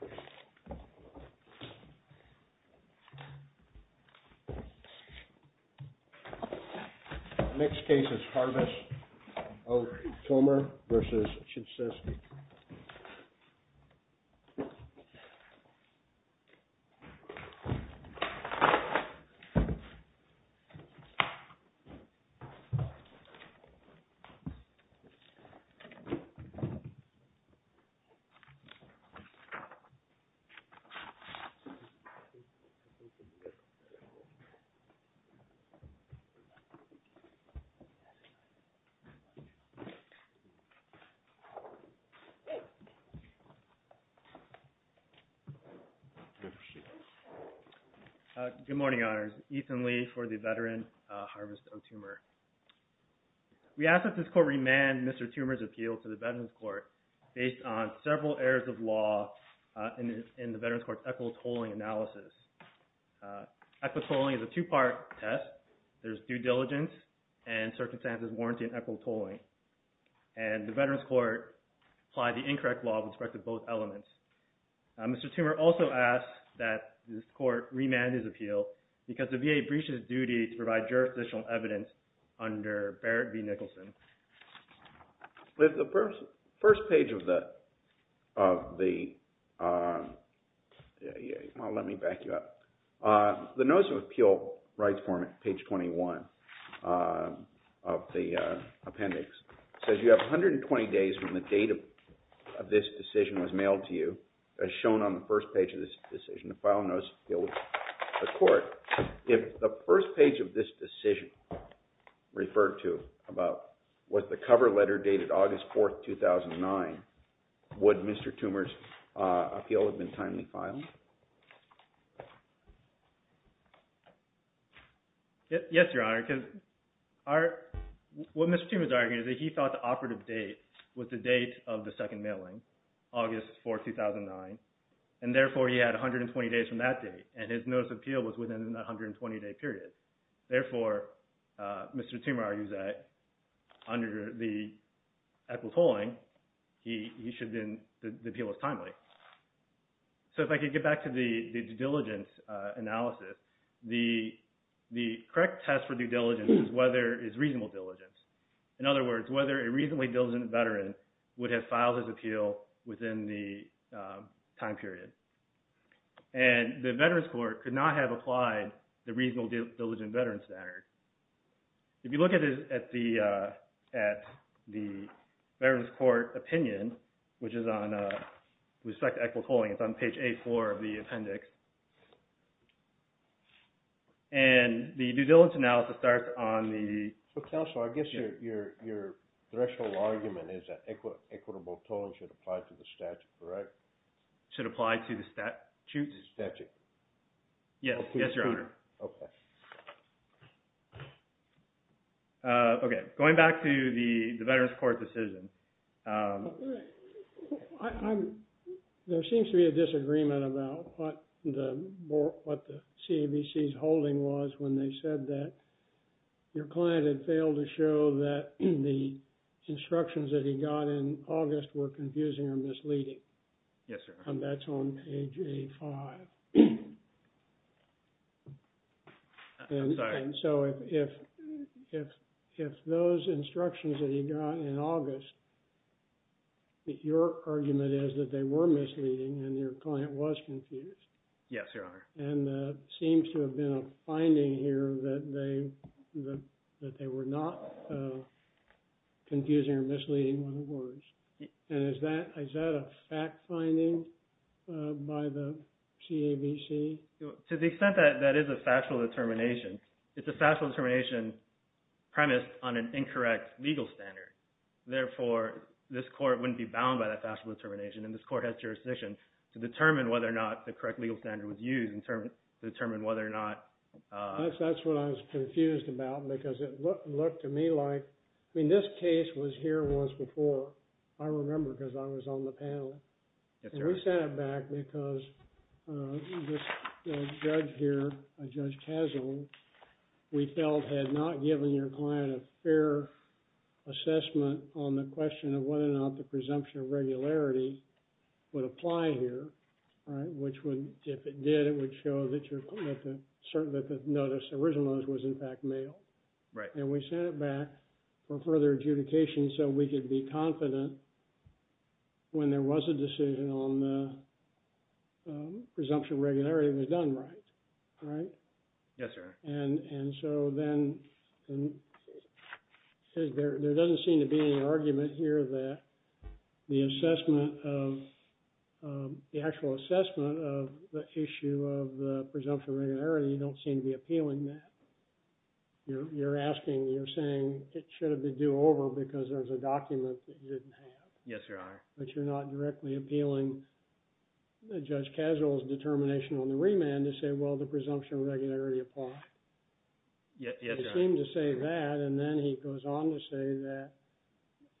The next case is Harvest of Toomer v. Chichestov. Harvest of Toomer v. Chichestov. Good morning, Honors. Ethan Lee for the veteran Harvest of Toomer. We ask that this court remand Mr. Toomer's appeal to the Veterans Court based on several errors of law in the Veterans Court's equitable tolling analysis. Equitable tolling is a two-part test. There's due diligence and circumstances warranting equitable tolling. And the Veterans Court applied the incorrect law with respect to both elements. Mr. Toomer also asks that this court remand his appeal because the VA breaches its duty to provide jurisdictional evidence under Barrett v. Nicholson. With the first page of the, well, let me back you up. The Notice of Appeal Rights Form at page 21 of the appendix says you have 120 days from the date of this decision was mailed to you, as shown on the first page of this decision, the file Notice of Appeal to the Was the cover letter dated August 4, 2009? Would Mr. Toomer's appeal have been timely filed? Yes, Your Honor. What Mr. Toomer is arguing is that he thought the operative date was the date of the second mailing, August 4, 2009. And therefore, he had 120 days from that date. And his Notice of Appeal was within the 120-day period. Therefore, Mr. Toomer argues that under the equitable tolling, the appeal was timely. So if I could get back to the due diligence analysis, the correct test for due diligence is whether it's reasonable diligence. In other words, whether a reasonably diligent veteran would have filed his appeal within the time period. And the Veterans Court could not have applied the reasonable diligent veteran standard. If you look at the Veterans Court opinion, which is on respect to equitable tolling, it's on page 8-4 of the appendix. And the due diligence analysis starts on the So counsel, I guess your threshold argument is that equitable tolling should apply to statutes? Yes, Your Honor. Okay. Going back to the Veterans Court decision. There seems to be a disagreement about what the CAVC's holding was when they said that your client had failed to show that the instructions that he got in August were confusing or misleading. Yes, Your Honor. That's on page 8-5. And so if those instructions that he got in August, your argument is that they were misleading and your client was confused. Yes, Your Honor. And it seems to have been a finding here that they were not confusing or misleading when it was. And is that a fact finding by the CAVC? To the extent that that is a factual determination, it's a factual determination premised on an incorrect legal standard. Therefore, this court wouldn't be bound by that factual determination and this court has jurisdiction to determine whether or not the correct legal standard was used in terms of determining whether or not. That's what I was confused about because it looked to me like, I mean, this case was here once before. I remember because I was on the panel. Yes, Your Honor. And we sent it back because this judge here, Judge Tassel, we felt had not given your client a fair assessment on the question of whether or not the presumption of regularity would apply here, right? Which would, if it did, it would show that your, that the notice, the original notice was in fact mailed. Right. And we sent it back for further adjudication so we could be confident when there was a decision on presumption of regularity, it was done right, right? Yes, Your Honor. And so then, there doesn't seem to be any argument here that the assessment of, the actual assessment of the issue of the presumption of regularity, you don't seem to be appealing that. You're asking, you're saying it should have been due over because there's a document that you didn't have. Yes, Your Honor. But you're not directly appealing Judge Tassel's determination on the remand to say, well, the presumption of regularity applied. Yes, Your Honor. He seemed to say that, and then he goes on to say that,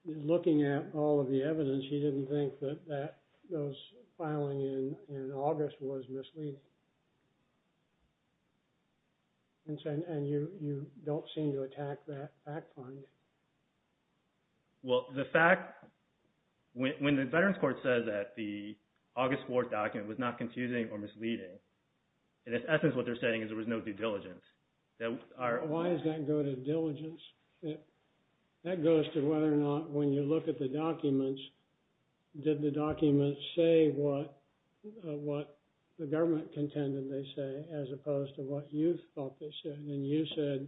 looking at all of the evidence, he didn't think that that, those filing in August was misleading. And you don't seem to attack that fact find. Well, the fact, when the Veterans Court says that the August 4th document was not confusing or misleading, in its essence, what they're saying is there was no due diligence. Why does that go to diligence? That goes to whether or not, when you look at the documents, did the documents say what the government contended they say, as opposed to what you thought they said. And you said,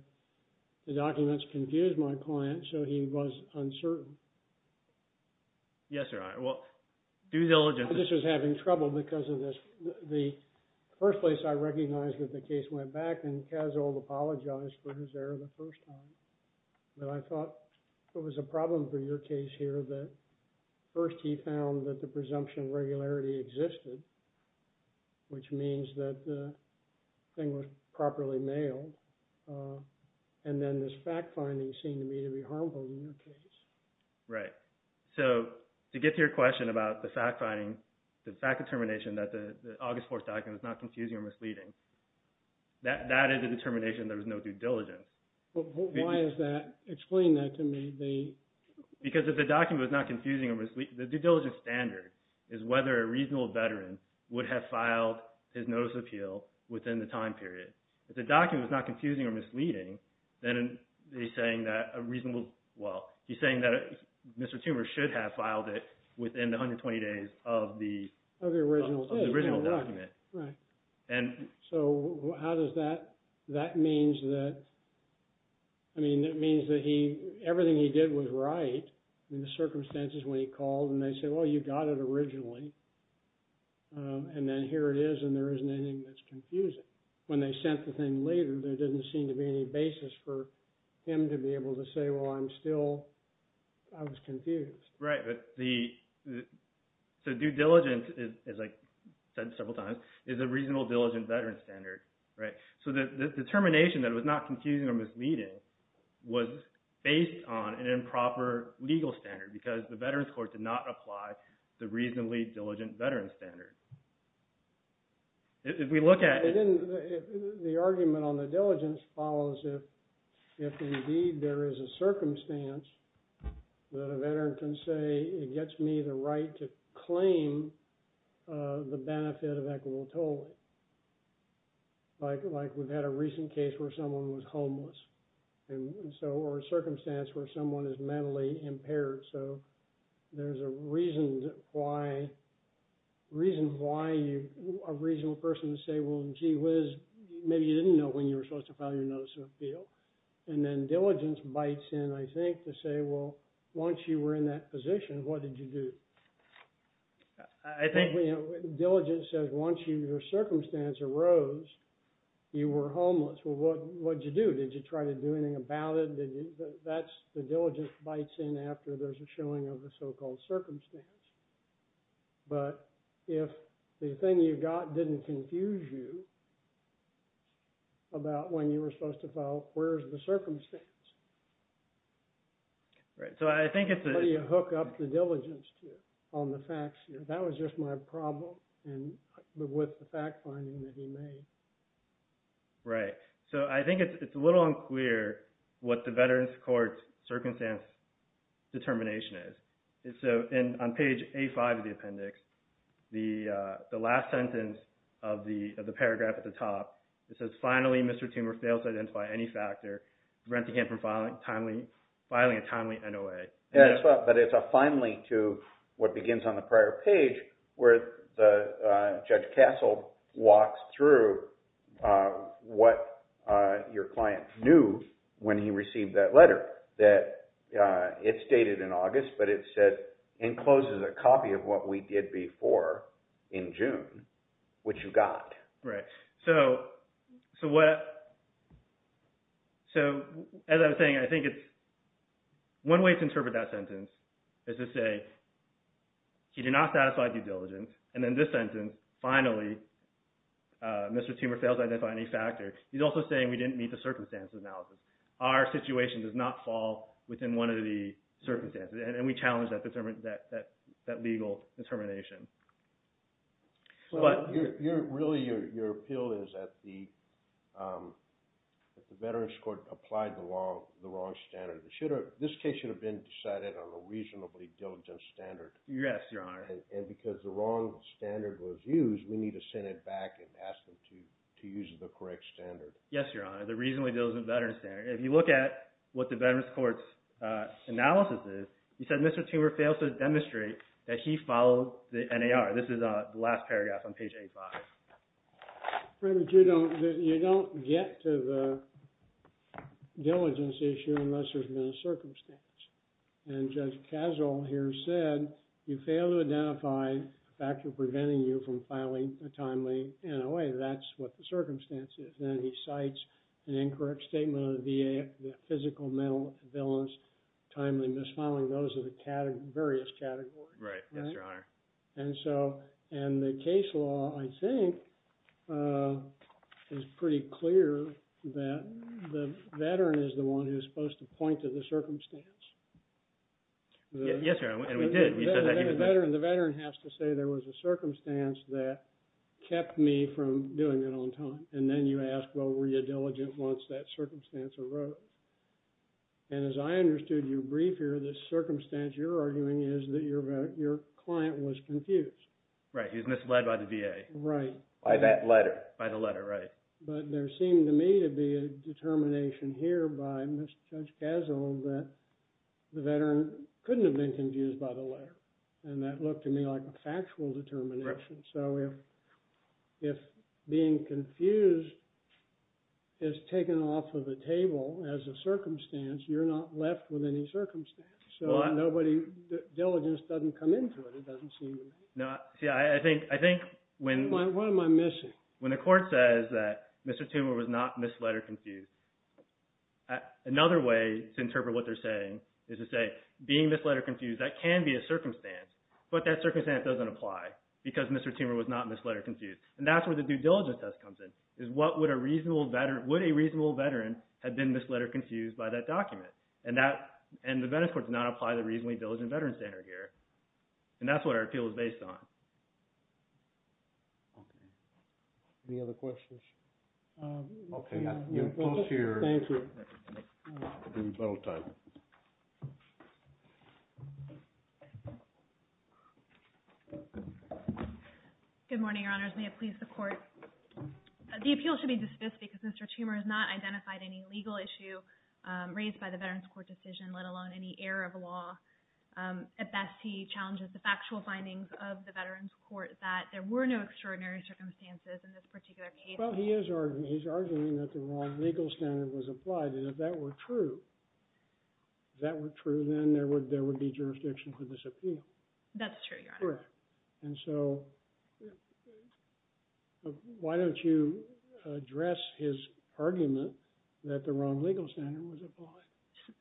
the documents confused my client, so he was uncertain. Yes, Your Honor. Well, due diligence. I just was having trouble because of this. The first place I recognized that the case went back, and Tassel apologized for his error the first time. But I thought there was a problem for your case here that, first, he found that the presumption of regularity existed, which means that the thing was properly mailed. And then this fact finding seemed to me to be harmful in your case. Right. So, to get to your question about the fact finding, the fact determination that the August 4th document was not confusing or misleading, that is a determination there was no due diligence. Why is that? Explain that to me. Because if the document was not confusing or misleading, the reasonable veteran would have filed his notice of appeal within the time period. If the document was not confusing or misleading, then he's saying that a reasonable, well, he's saying that Mr. Toomer should have filed it within the 120 days of the original document. Right. So, how does that, that means that, I mean, it means that he, everything he did was right in the circumstances when he called and they said, well, you got it originally, and then here it is, and there isn't anything that's confusing. When they sent the thing later, there didn't seem to be any basis for him to be able to say, well, I'm still, I was confused. Right. But the, so due diligence is, as I said several times, is a reasonable, diligent veteran standard. Right. So, the determination that it was not confusing or misleading was based on an improper legal standard, because the Veterans Court did not apply the reasonably diligent veteran standard. If we look at it. And then the argument on the diligence follows if, if indeed there is a circumstance that a veteran can say, it gets me the right to claim the So, there's a reason why, reason why you, a reasonable person would say, well, gee whiz, maybe you didn't know when you were supposed to file your notice of appeal. And then diligence bites in, I think, to say, well, once you were in that position, what did you do? I think, you know, diligence says once your circumstance arose, you were homeless. Well, what did you do? Did you try to do anything about it? That's, the diligence bites in after there's a showing of the so-called circumstance. But if the thing you got didn't confuse you about when you were supposed to file, where's the circumstance? Right. So, I think it's a... So, you hook up the diligence to it on the facts here. That was just my problem and with the fact finding that he made. Right. So, I think it's a little unclear what the Veterans Court's circumstance determination is. So, on page A5 of the appendix, the last sentence of the paragraph at the top, it says, finally, Mr. Toomer fails to identify any factor preventing him from filing a timely NOA. But it's a finally to what begins on the prior page where Judge Castle walks through what your client knew when he received that letter. That it's dated in August, but it says, encloses a copy of what we did before in June, which you got. Right. So, as I was saying, I think it's, one way to interpret that sentence is to say, he did not satisfy due diligence, and then this sentence, finally, Mr. Toomer fails to identify any factor. He's also saying we didn't meet the circumstances analysis. Our situation does not fall within one of the circumstances, and we challenge that legal determination. So, really, your appeal is that the Veterans Court applied the wrong standard. This case should have been decided on a reasonably diligent standard. Yes, Your Honor. And because the wrong standard was used, we need to send it back and ask them to use the correct standard. Yes, Your Honor. The reasonably diligent Veterans standard. If you look at what the Veterans Court's analysis is, you said Mr. Toomer fails to demonstrate that he followed the NAR. This is the last paragraph on page 85. You don't get to the diligence issue unless there's been a circumstance. And Judge Casel here said, you fail to identify a factor preventing you from filing a timely NOA. That's what the circumstance is. Then he cites an incorrect statement of the VA, the physical, mental, violence, timely misfiling. Those are the various categories. Right. Yes, Your Honor. And the case law, I think, is pretty clear that the Veteran is the one who's supposed to point to the circumstance. Yes, Your Honor, and we did. The Veteran has to say there was a circumstance that kept me from doing it on time. And then you ask, well, were you diligent once that circumstance arose? And as I understood your brief here, the circumstance you're arguing is that your client was confused. Right. He was misled by the VA. Right. By that letter. By the letter, right. But there seemed to me to be a determination here by Judge Casel that the Veteran couldn't have been confused by the letter. And that looked to me like a factual determination. So if being confused is taken off of the table as a circumstance, you're not left with any circumstance. So nobody, diligence doesn't come into it. It doesn't seem to me. No, see, I think when. What am I missing? When the court says that Mr. Toomer was not misled or confused, another way to interpret what they're saying is to say being misled or confused, that can be a circumstance, but that circumstance doesn't apply because Mr. Toomer was not misled or confused. And that's where the due diligence test comes in. Is what would a reasonable Veteran, would a reasonable Veteran have been misled or confused by that document? And that, and the Venice court did not apply the reasonably diligent Veteran standard here. And that's what our appeal is based on. Okay. Any other questions? Okay. Thank you. Good morning, Your Honors. May it please the court. The appeal should be dismissed because Mr. Toomer has not identified any legal issue raised by the Veterans Court decision, let alone any error of law. At best, he challenges the factual findings of the Veterans Court that there were no extraordinary circumstances in this particular case. Well, he is arguing that the wrong legal standard was applied. And if that were true, then there would be jurisdiction for this appeal. That's true, Your Honor. And so, why don't you address his argument that the wrong legal standard was applied?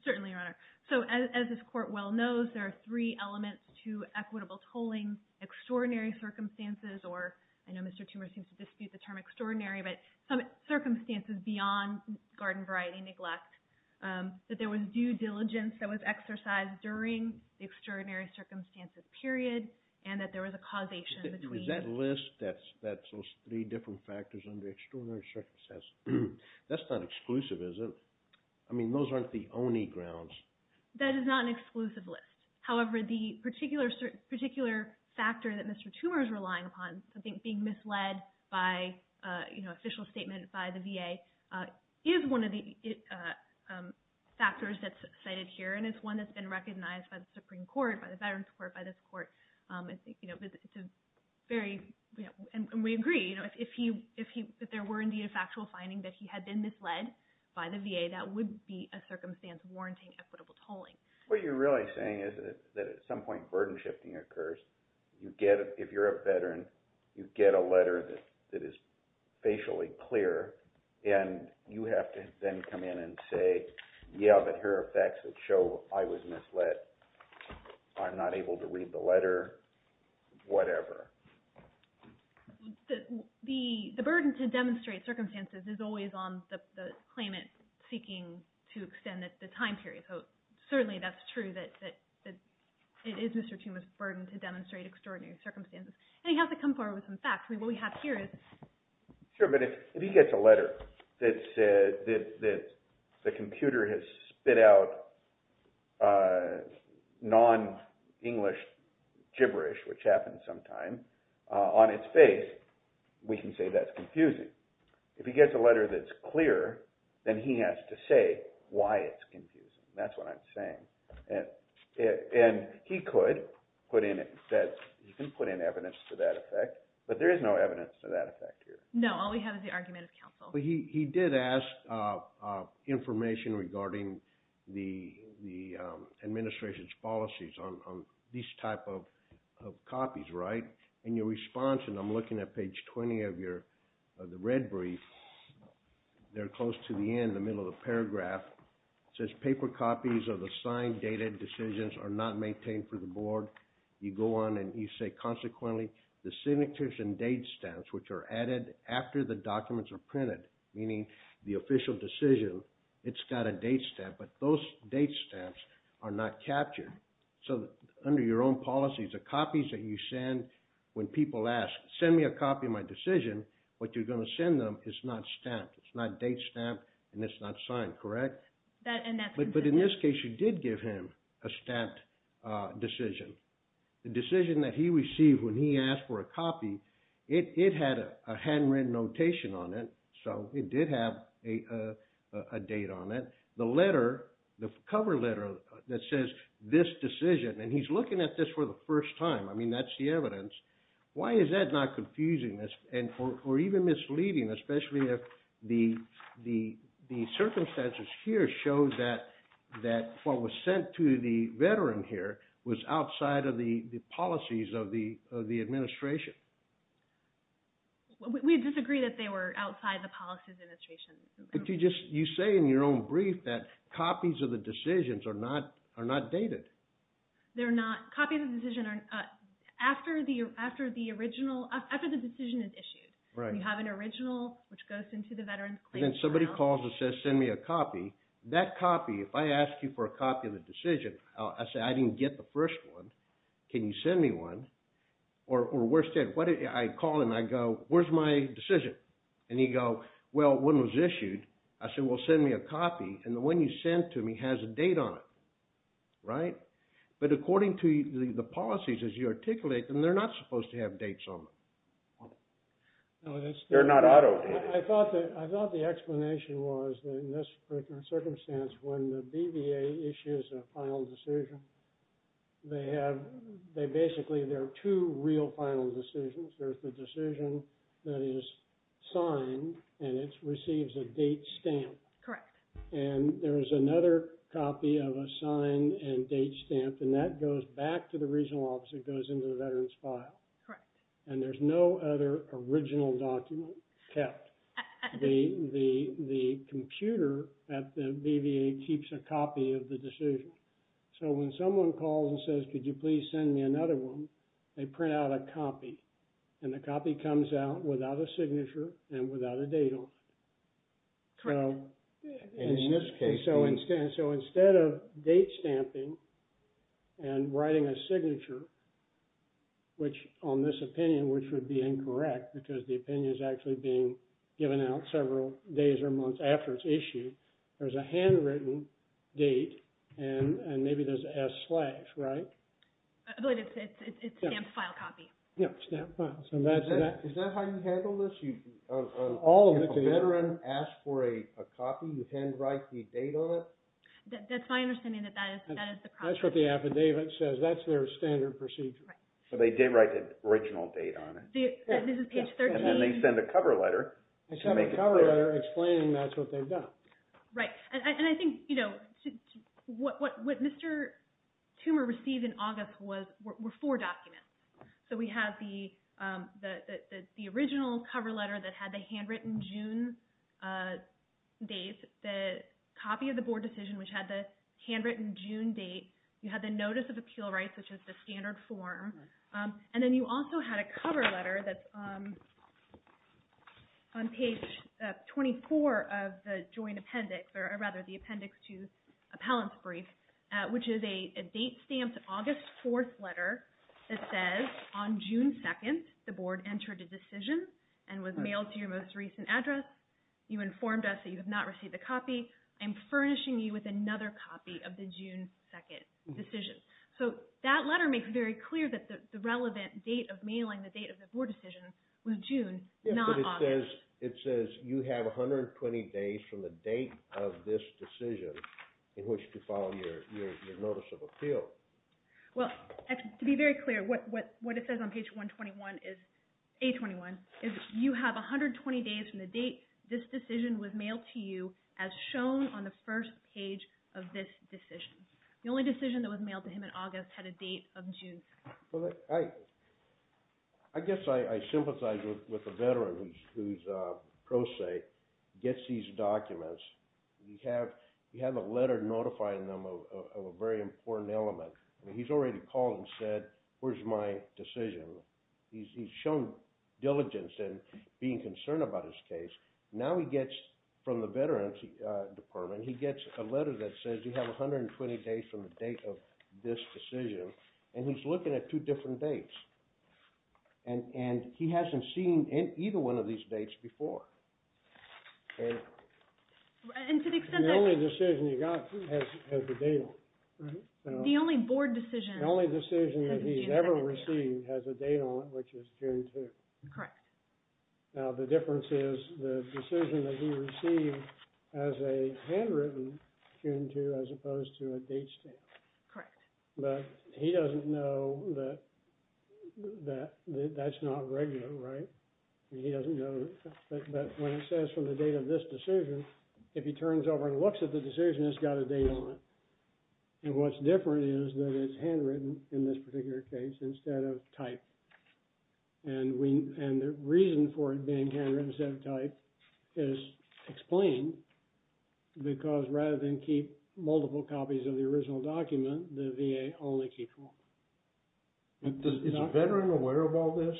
Certainly, Your Honor. So, as this court well knows, there are three elements to equitable tolling. Extraordinary circumstances, or I know Mr. Toomer seems to dispute the term extraordinary, but some circumstances beyond garden variety neglect. That there was due diligence that was exercised during the extraordinary circumstances period. And that there was a causation between. Is that list, that's those three different factors under extraordinary circumstances, that's not exclusive, is it? I mean, those aren't the only grounds. That is not an exclusive list. However, the particular factor that Mr. Toomer is relying upon, something being misled by official statement by the VA, is one of the factors that's cited here. And it's one that's been recognized by the Supreme Court, by the Veterans Court, by this court. It's a very, and we agree, if there were indeed a factual finding that he had been misled by the VA, that would be a circumstance warranting equitable tolling. What you're really saying is that at some point burden shifting occurs. You get, if you're a veteran, you get a letter that is facially clear, and you have to then come in and say, yeah, but here are facts that show I was misled. I'm not able to read the letter, whatever. The burden to demonstrate circumstances is always on the claimant seeking to extend the time period. So certainly that's true that it is Mr. Toomer's burden to demonstrate extraordinary circumstances. And he has to come forward with some facts. Sure, but if he gets a letter that the computer has spit out non-English gibberish, which happens sometimes, on its face, we can say that's confusing. If he gets a letter that's clear, then he has to say why it's confusing. That's what I'm saying. And he could put in evidence to that effect, but there is no evidence to that effect here. No, all we have is the argument of counsel. He did ask information regarding the administration's policies on these type of copies, right? And your response, and I'm looking at page 20 of the red brief, they're close to the end, the middle of the paragraph. It says, paper copies of assigned data decisions are not maintained for the board. You go on and you say, consequently, the signatures and date stamps, which are added after the documents are printed, meaning the official decision, it's got a date stamp. But those date stamps are not captured. So under your own policies, the copies that you send, when people ask, send me a copy of my decision, what you're going to send them is not stamped. It's not date stamped, and it's not signed, correct? But in this case, you did give him a stamped decision. The decision that he received when he asked for a copy, it had a handwritten notation on it, so it did have a date on it. The cover letter that says, this decision, and he's looking at this for the first time. I mean, that's the evidence. Why is that not confusing or even misleading, especially if the circumstances here show that what was sent to the veteran here was outside of the policies of the administration? We disagree that they were outside the policies of the administration. You say in your own brief that copies of the decisions are not dated. They're not. Copies of the decision are after the decision is issued. You have an original, which goes into the veteran's claim file. And then somebody calls and says, send me a copy. That copy, if I ask you for a copy of the decision, I say, I didn't get the first one. Can you send me one? Or worse yet, I call and I go, where's my decision? And you go, well, one was issued. I said, well, send me a copy. And the one you sent to me has a date on it. Right? But according to the policies as you articulate them, they're not supposed to have dates on them. They're not auto dates. I thought the explanation was, in this particular circumstance, when the BVA issues a final decision, they basically, there are two real final decisions. There's the decision that is signed, and it receives a date stamp. Correct. And there is another copy of a sign and date stamp, and that goes back to the regional office. It goes into the veteran's file. Correct. And there's no other original document kept. The computer at the BVA keeps a copy of the decision. So when someone calls and says, could you please send me another one, they print out a copy. And the copy comes out without a signature and without a date on it. Correct. In this case. So instead of date stamping and writing a signature, which on this opinion, which would be incorrect, because the opinion is actually being given out several days or months after it's issued, there's a handwritten date, and maybe there's an S slash, right? I believe it's stamped file copy. Yeah, stamped file. Is that how you handle this? All of it. If a veteran asks for a copy, you handwrite the date on it? That's my understanding that that is the process. That's what the affidavit says. That's their standard procedure. So they did write the original date on it. This is page 13. And then they send a cover letter. They send a cover letter explaining that's what they've done. Right. And I think what Mr. Toomer received in August were four documents. So we have the original cover letter that had the handwritten June date, the copy of the board decision, which had the handwritten June date. You had the notice of appeal rights, which is the standard form. And then you also had a cover letter that's on page 24 of the joint appendix, or rather the appendix to appellant's brief, which is a date stamped August 4th letter that says, on June 2nd, the board entered a decision and was mailed to your most recent address. You informed us that you have not received a copy. I'm furnishing you with another copy of the June 2nd decision. So that letter makes it very clear that the relevant date of mailing, the date of the board decision, was June, not August. It says you have 120 days from the date of this decision in which to file your notice of appeal. Well, to be very clear, what it says on page 121, A21, is you have 120 days from the date this decision was mailed to you as shown on the first page of this decision. The only decision that was mailed to him in August had a date of June. I guess I sympathize with the veteran whose pro se gets these documents. You have a letter notifying them of a very important element. He's already called and said, where's my decision? He's shown diligence in being concerned about his case. Now he gets from the veterans department, he gets a letter that says you have 120 days from the date of this decision. And he's looking at two different dates. And he hasn't seen either one of these dates before. And to the extent that- The only decision he got has the date on it. The only board decision- The only decision that he ever received has a date on it, which is June 2nd. Correct. Now the difference is the decision that he received has a handwritten June 2nd as opposed to a date stamp. Correct. But he doesn't know that that's not regular, right? He doesn't know. But when it says from the date of this decision, if he turns over and looks at the decision, it's got a date on it. And what's different is that it's handwritten in this particular case instead of typed. And the reason for it being handwritten instead of typed is explained. Because rather than keep multiple copies of the original document, the VA only keeps one. Is a veteran aware of all this?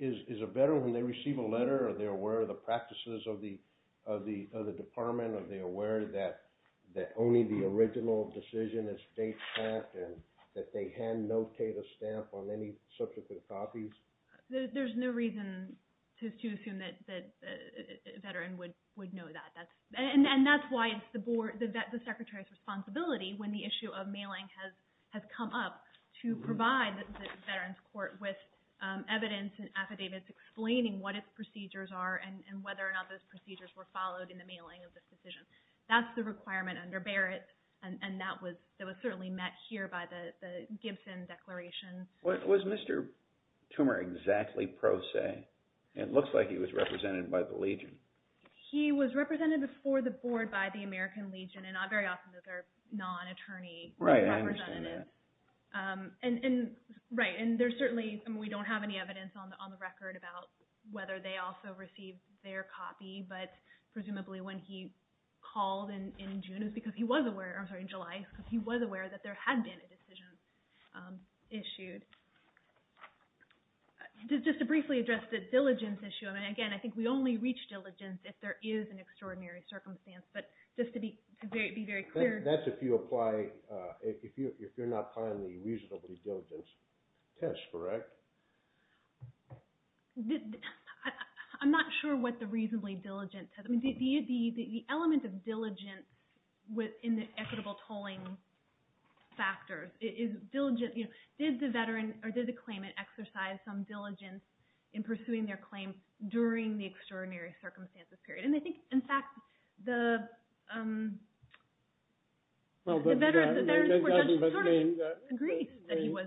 Is a veteran, when they receive a letter, are they aware of the practices of the department? Are they aware that only the original decision is date stamped and that they hand notate a stamp on any subsequent copies? There's no reason to assume that a veteran would know that. And that's why it's the Secretary's responsibility, when the issue of mailing has come up, to provide the Veterans Court with evidence and affidavits explaining what its procedures are and whether or not those procedures were followed in the mailing of this decision. That's the requirement under Barrett. And that was certainly met here by the Gibson Declaration. Was Mr. Toomer exactly pro se? It looks like he was represented by the Legion. He was represented before the Board by the American Legion. And not very often that they're non-attorney representatives. Right, I understand that. Right, and we don't have any evidence on the record about whether they also received their copy. But presumably when he called in July, he was aware that there had been a decision issued. Just to briefly address the diligence issue. Again, I think we only reach diligence if there is an extraordinary circumstance. That's if you're not applying the reasonably diligence test, correct? I'm not sure what the reasonably diligence test is. The element of diligence in the equitable tolling factors. Did the claimant exercise some diligence in pursuing their claim during the extraordinary circumstances period? And I think, in fact, the veteran court judge sort of agrees that he was.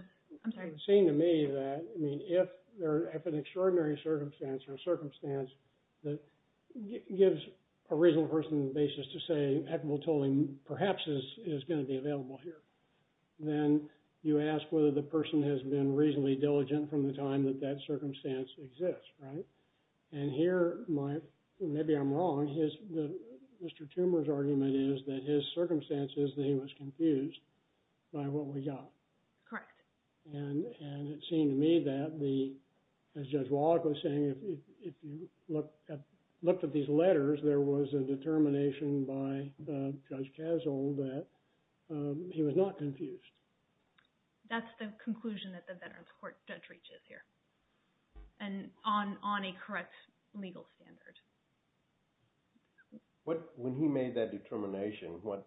It seemed to me that if an extraordinary circumstance or circumstance gives a reasonable person the basis to say equitable tolling perhaps is going to be available here, then you ask whether the person has been reasonably diligent from the time that that circumstance exists, right? And here, maybe I'm wrong, Mr. Toomer's argument is that his circumstance is that he was confused by what we got. Correct. And it seemed to me that, as Judge Wallach was saying, if you looked at these letters, there was a determination by Judge Kassel that he was not confused. That's the conclusion that the veterans court judge reaches here. And on a correct legal standard. When he made that determination, what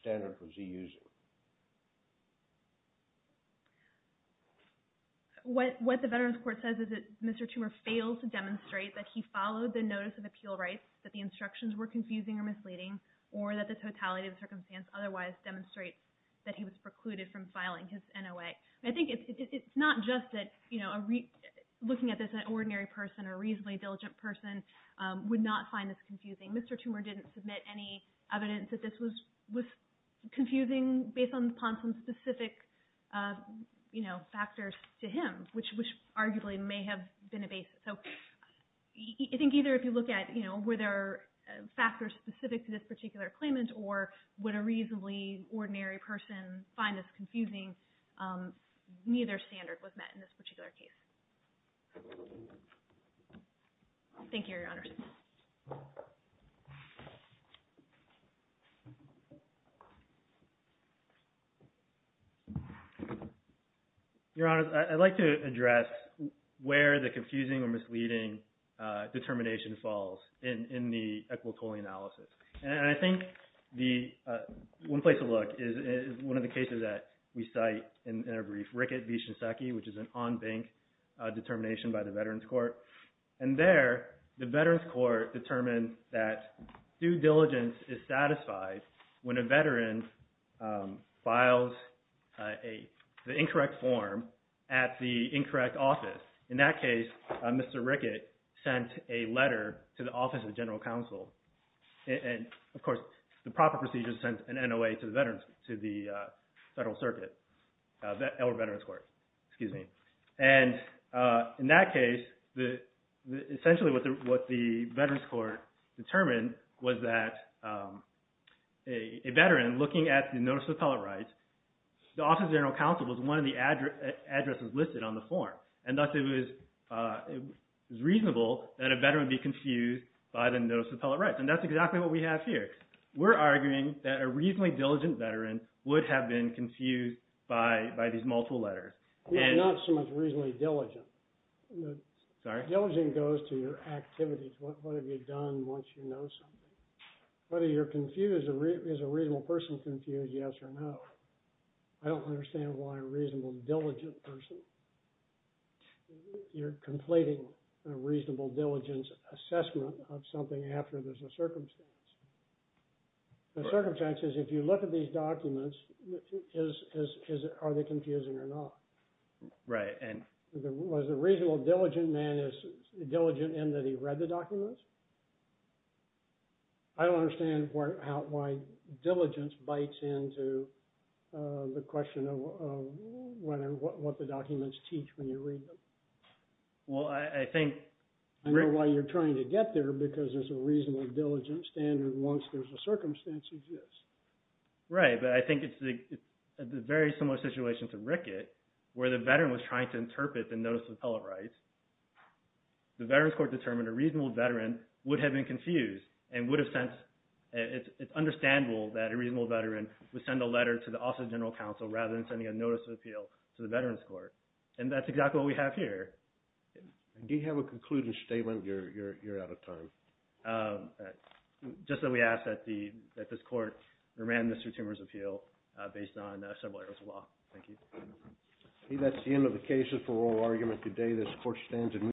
standard was he using? What the veterans court says is that Mr. Toomer failed to demonstrate that he followed the notice of appeal rights, that the instructions were confusing or misleading, or that the totality of the circumstance otherwise demonstrates that he was precluded from filing his NOA. I think it's not just that looking at this, an ordinary person, a reasonably diligent person, would not find this confusing. Mr. Toomer didn't submit any evidence that this was confusing based upon some specific factors to him, which arguably may have been a basis. So I think either if you look at were there factors specific to this particular claimant or would a reasonably ordinary person find this confusing, neither standard was met in this particular case. Thank you, Your Honors. Your Honors, I'd like to address where the confusing or misleading determination falls in the equitable analysis. And I think one place to look is one of the cases that we cite in our brief, Rickett v. Shinseki, which is an on-bank determination by the veterans court. And there, the veterans court determined that due diligence is satisfied when a veteran files the incorrect form at the incorrect office. In that case, Mr. Rickett sent a letter to the Office of General Counsel. And, of course, the proper procedure is to send an NOA to the veterans, to the Federal Circuit, or veterans court, excuse me. And in that case, essentially what the veterans court determined was that a veteran looking at the Notice of Appellate Rights, the Office of General Counsel was one of the addresses listed on the form. And thus, it was reasonable that a veteran would be confused by the Notice of Appellate Rights. And that's exactly what we have here. We're arguing that a reasonably diligent veteran would have been confused by these multiple letters. He's not so much reasonably diligent. Sorry? Diligent goes to your activities. What have you done once you know something? Whether you're confused, is a reasonable person confused, yes or no? I don't understand why a reasonable diligent person, you're completing a reasonable diligence assessment of something after there's a circumstance. The circumstance is if you look at these documents, are they confusing or not? Right. Was a reasonable diligent man diligent in that he read the documents? I don't understand why diligence bites into the question of what the documents teach when you read them. Well, I think… I know why you're trying to get there, because there's a reasonable diligent standard once there's a circumstance exists. Right. But I think it's a very similar situation to Rickett, where the veteran was trying to interpret the Notice of Appellate Rights. The Veterans Court determined a reasonable veteran would have been confused and would have sent… It's understandable that a reasonable veteran would send a letter to the Office of General Counsel rather than sending a Notice of Appeal to the Veterans Court. And that's exactly what we have here. Do you have a concluding statement? You're out of time. Just that we ask that this Court remand Mr. Tumor's appeal based on several areas of law. Thank you. I think that's the end of the cases for oral argument today. This Court stands adjourned.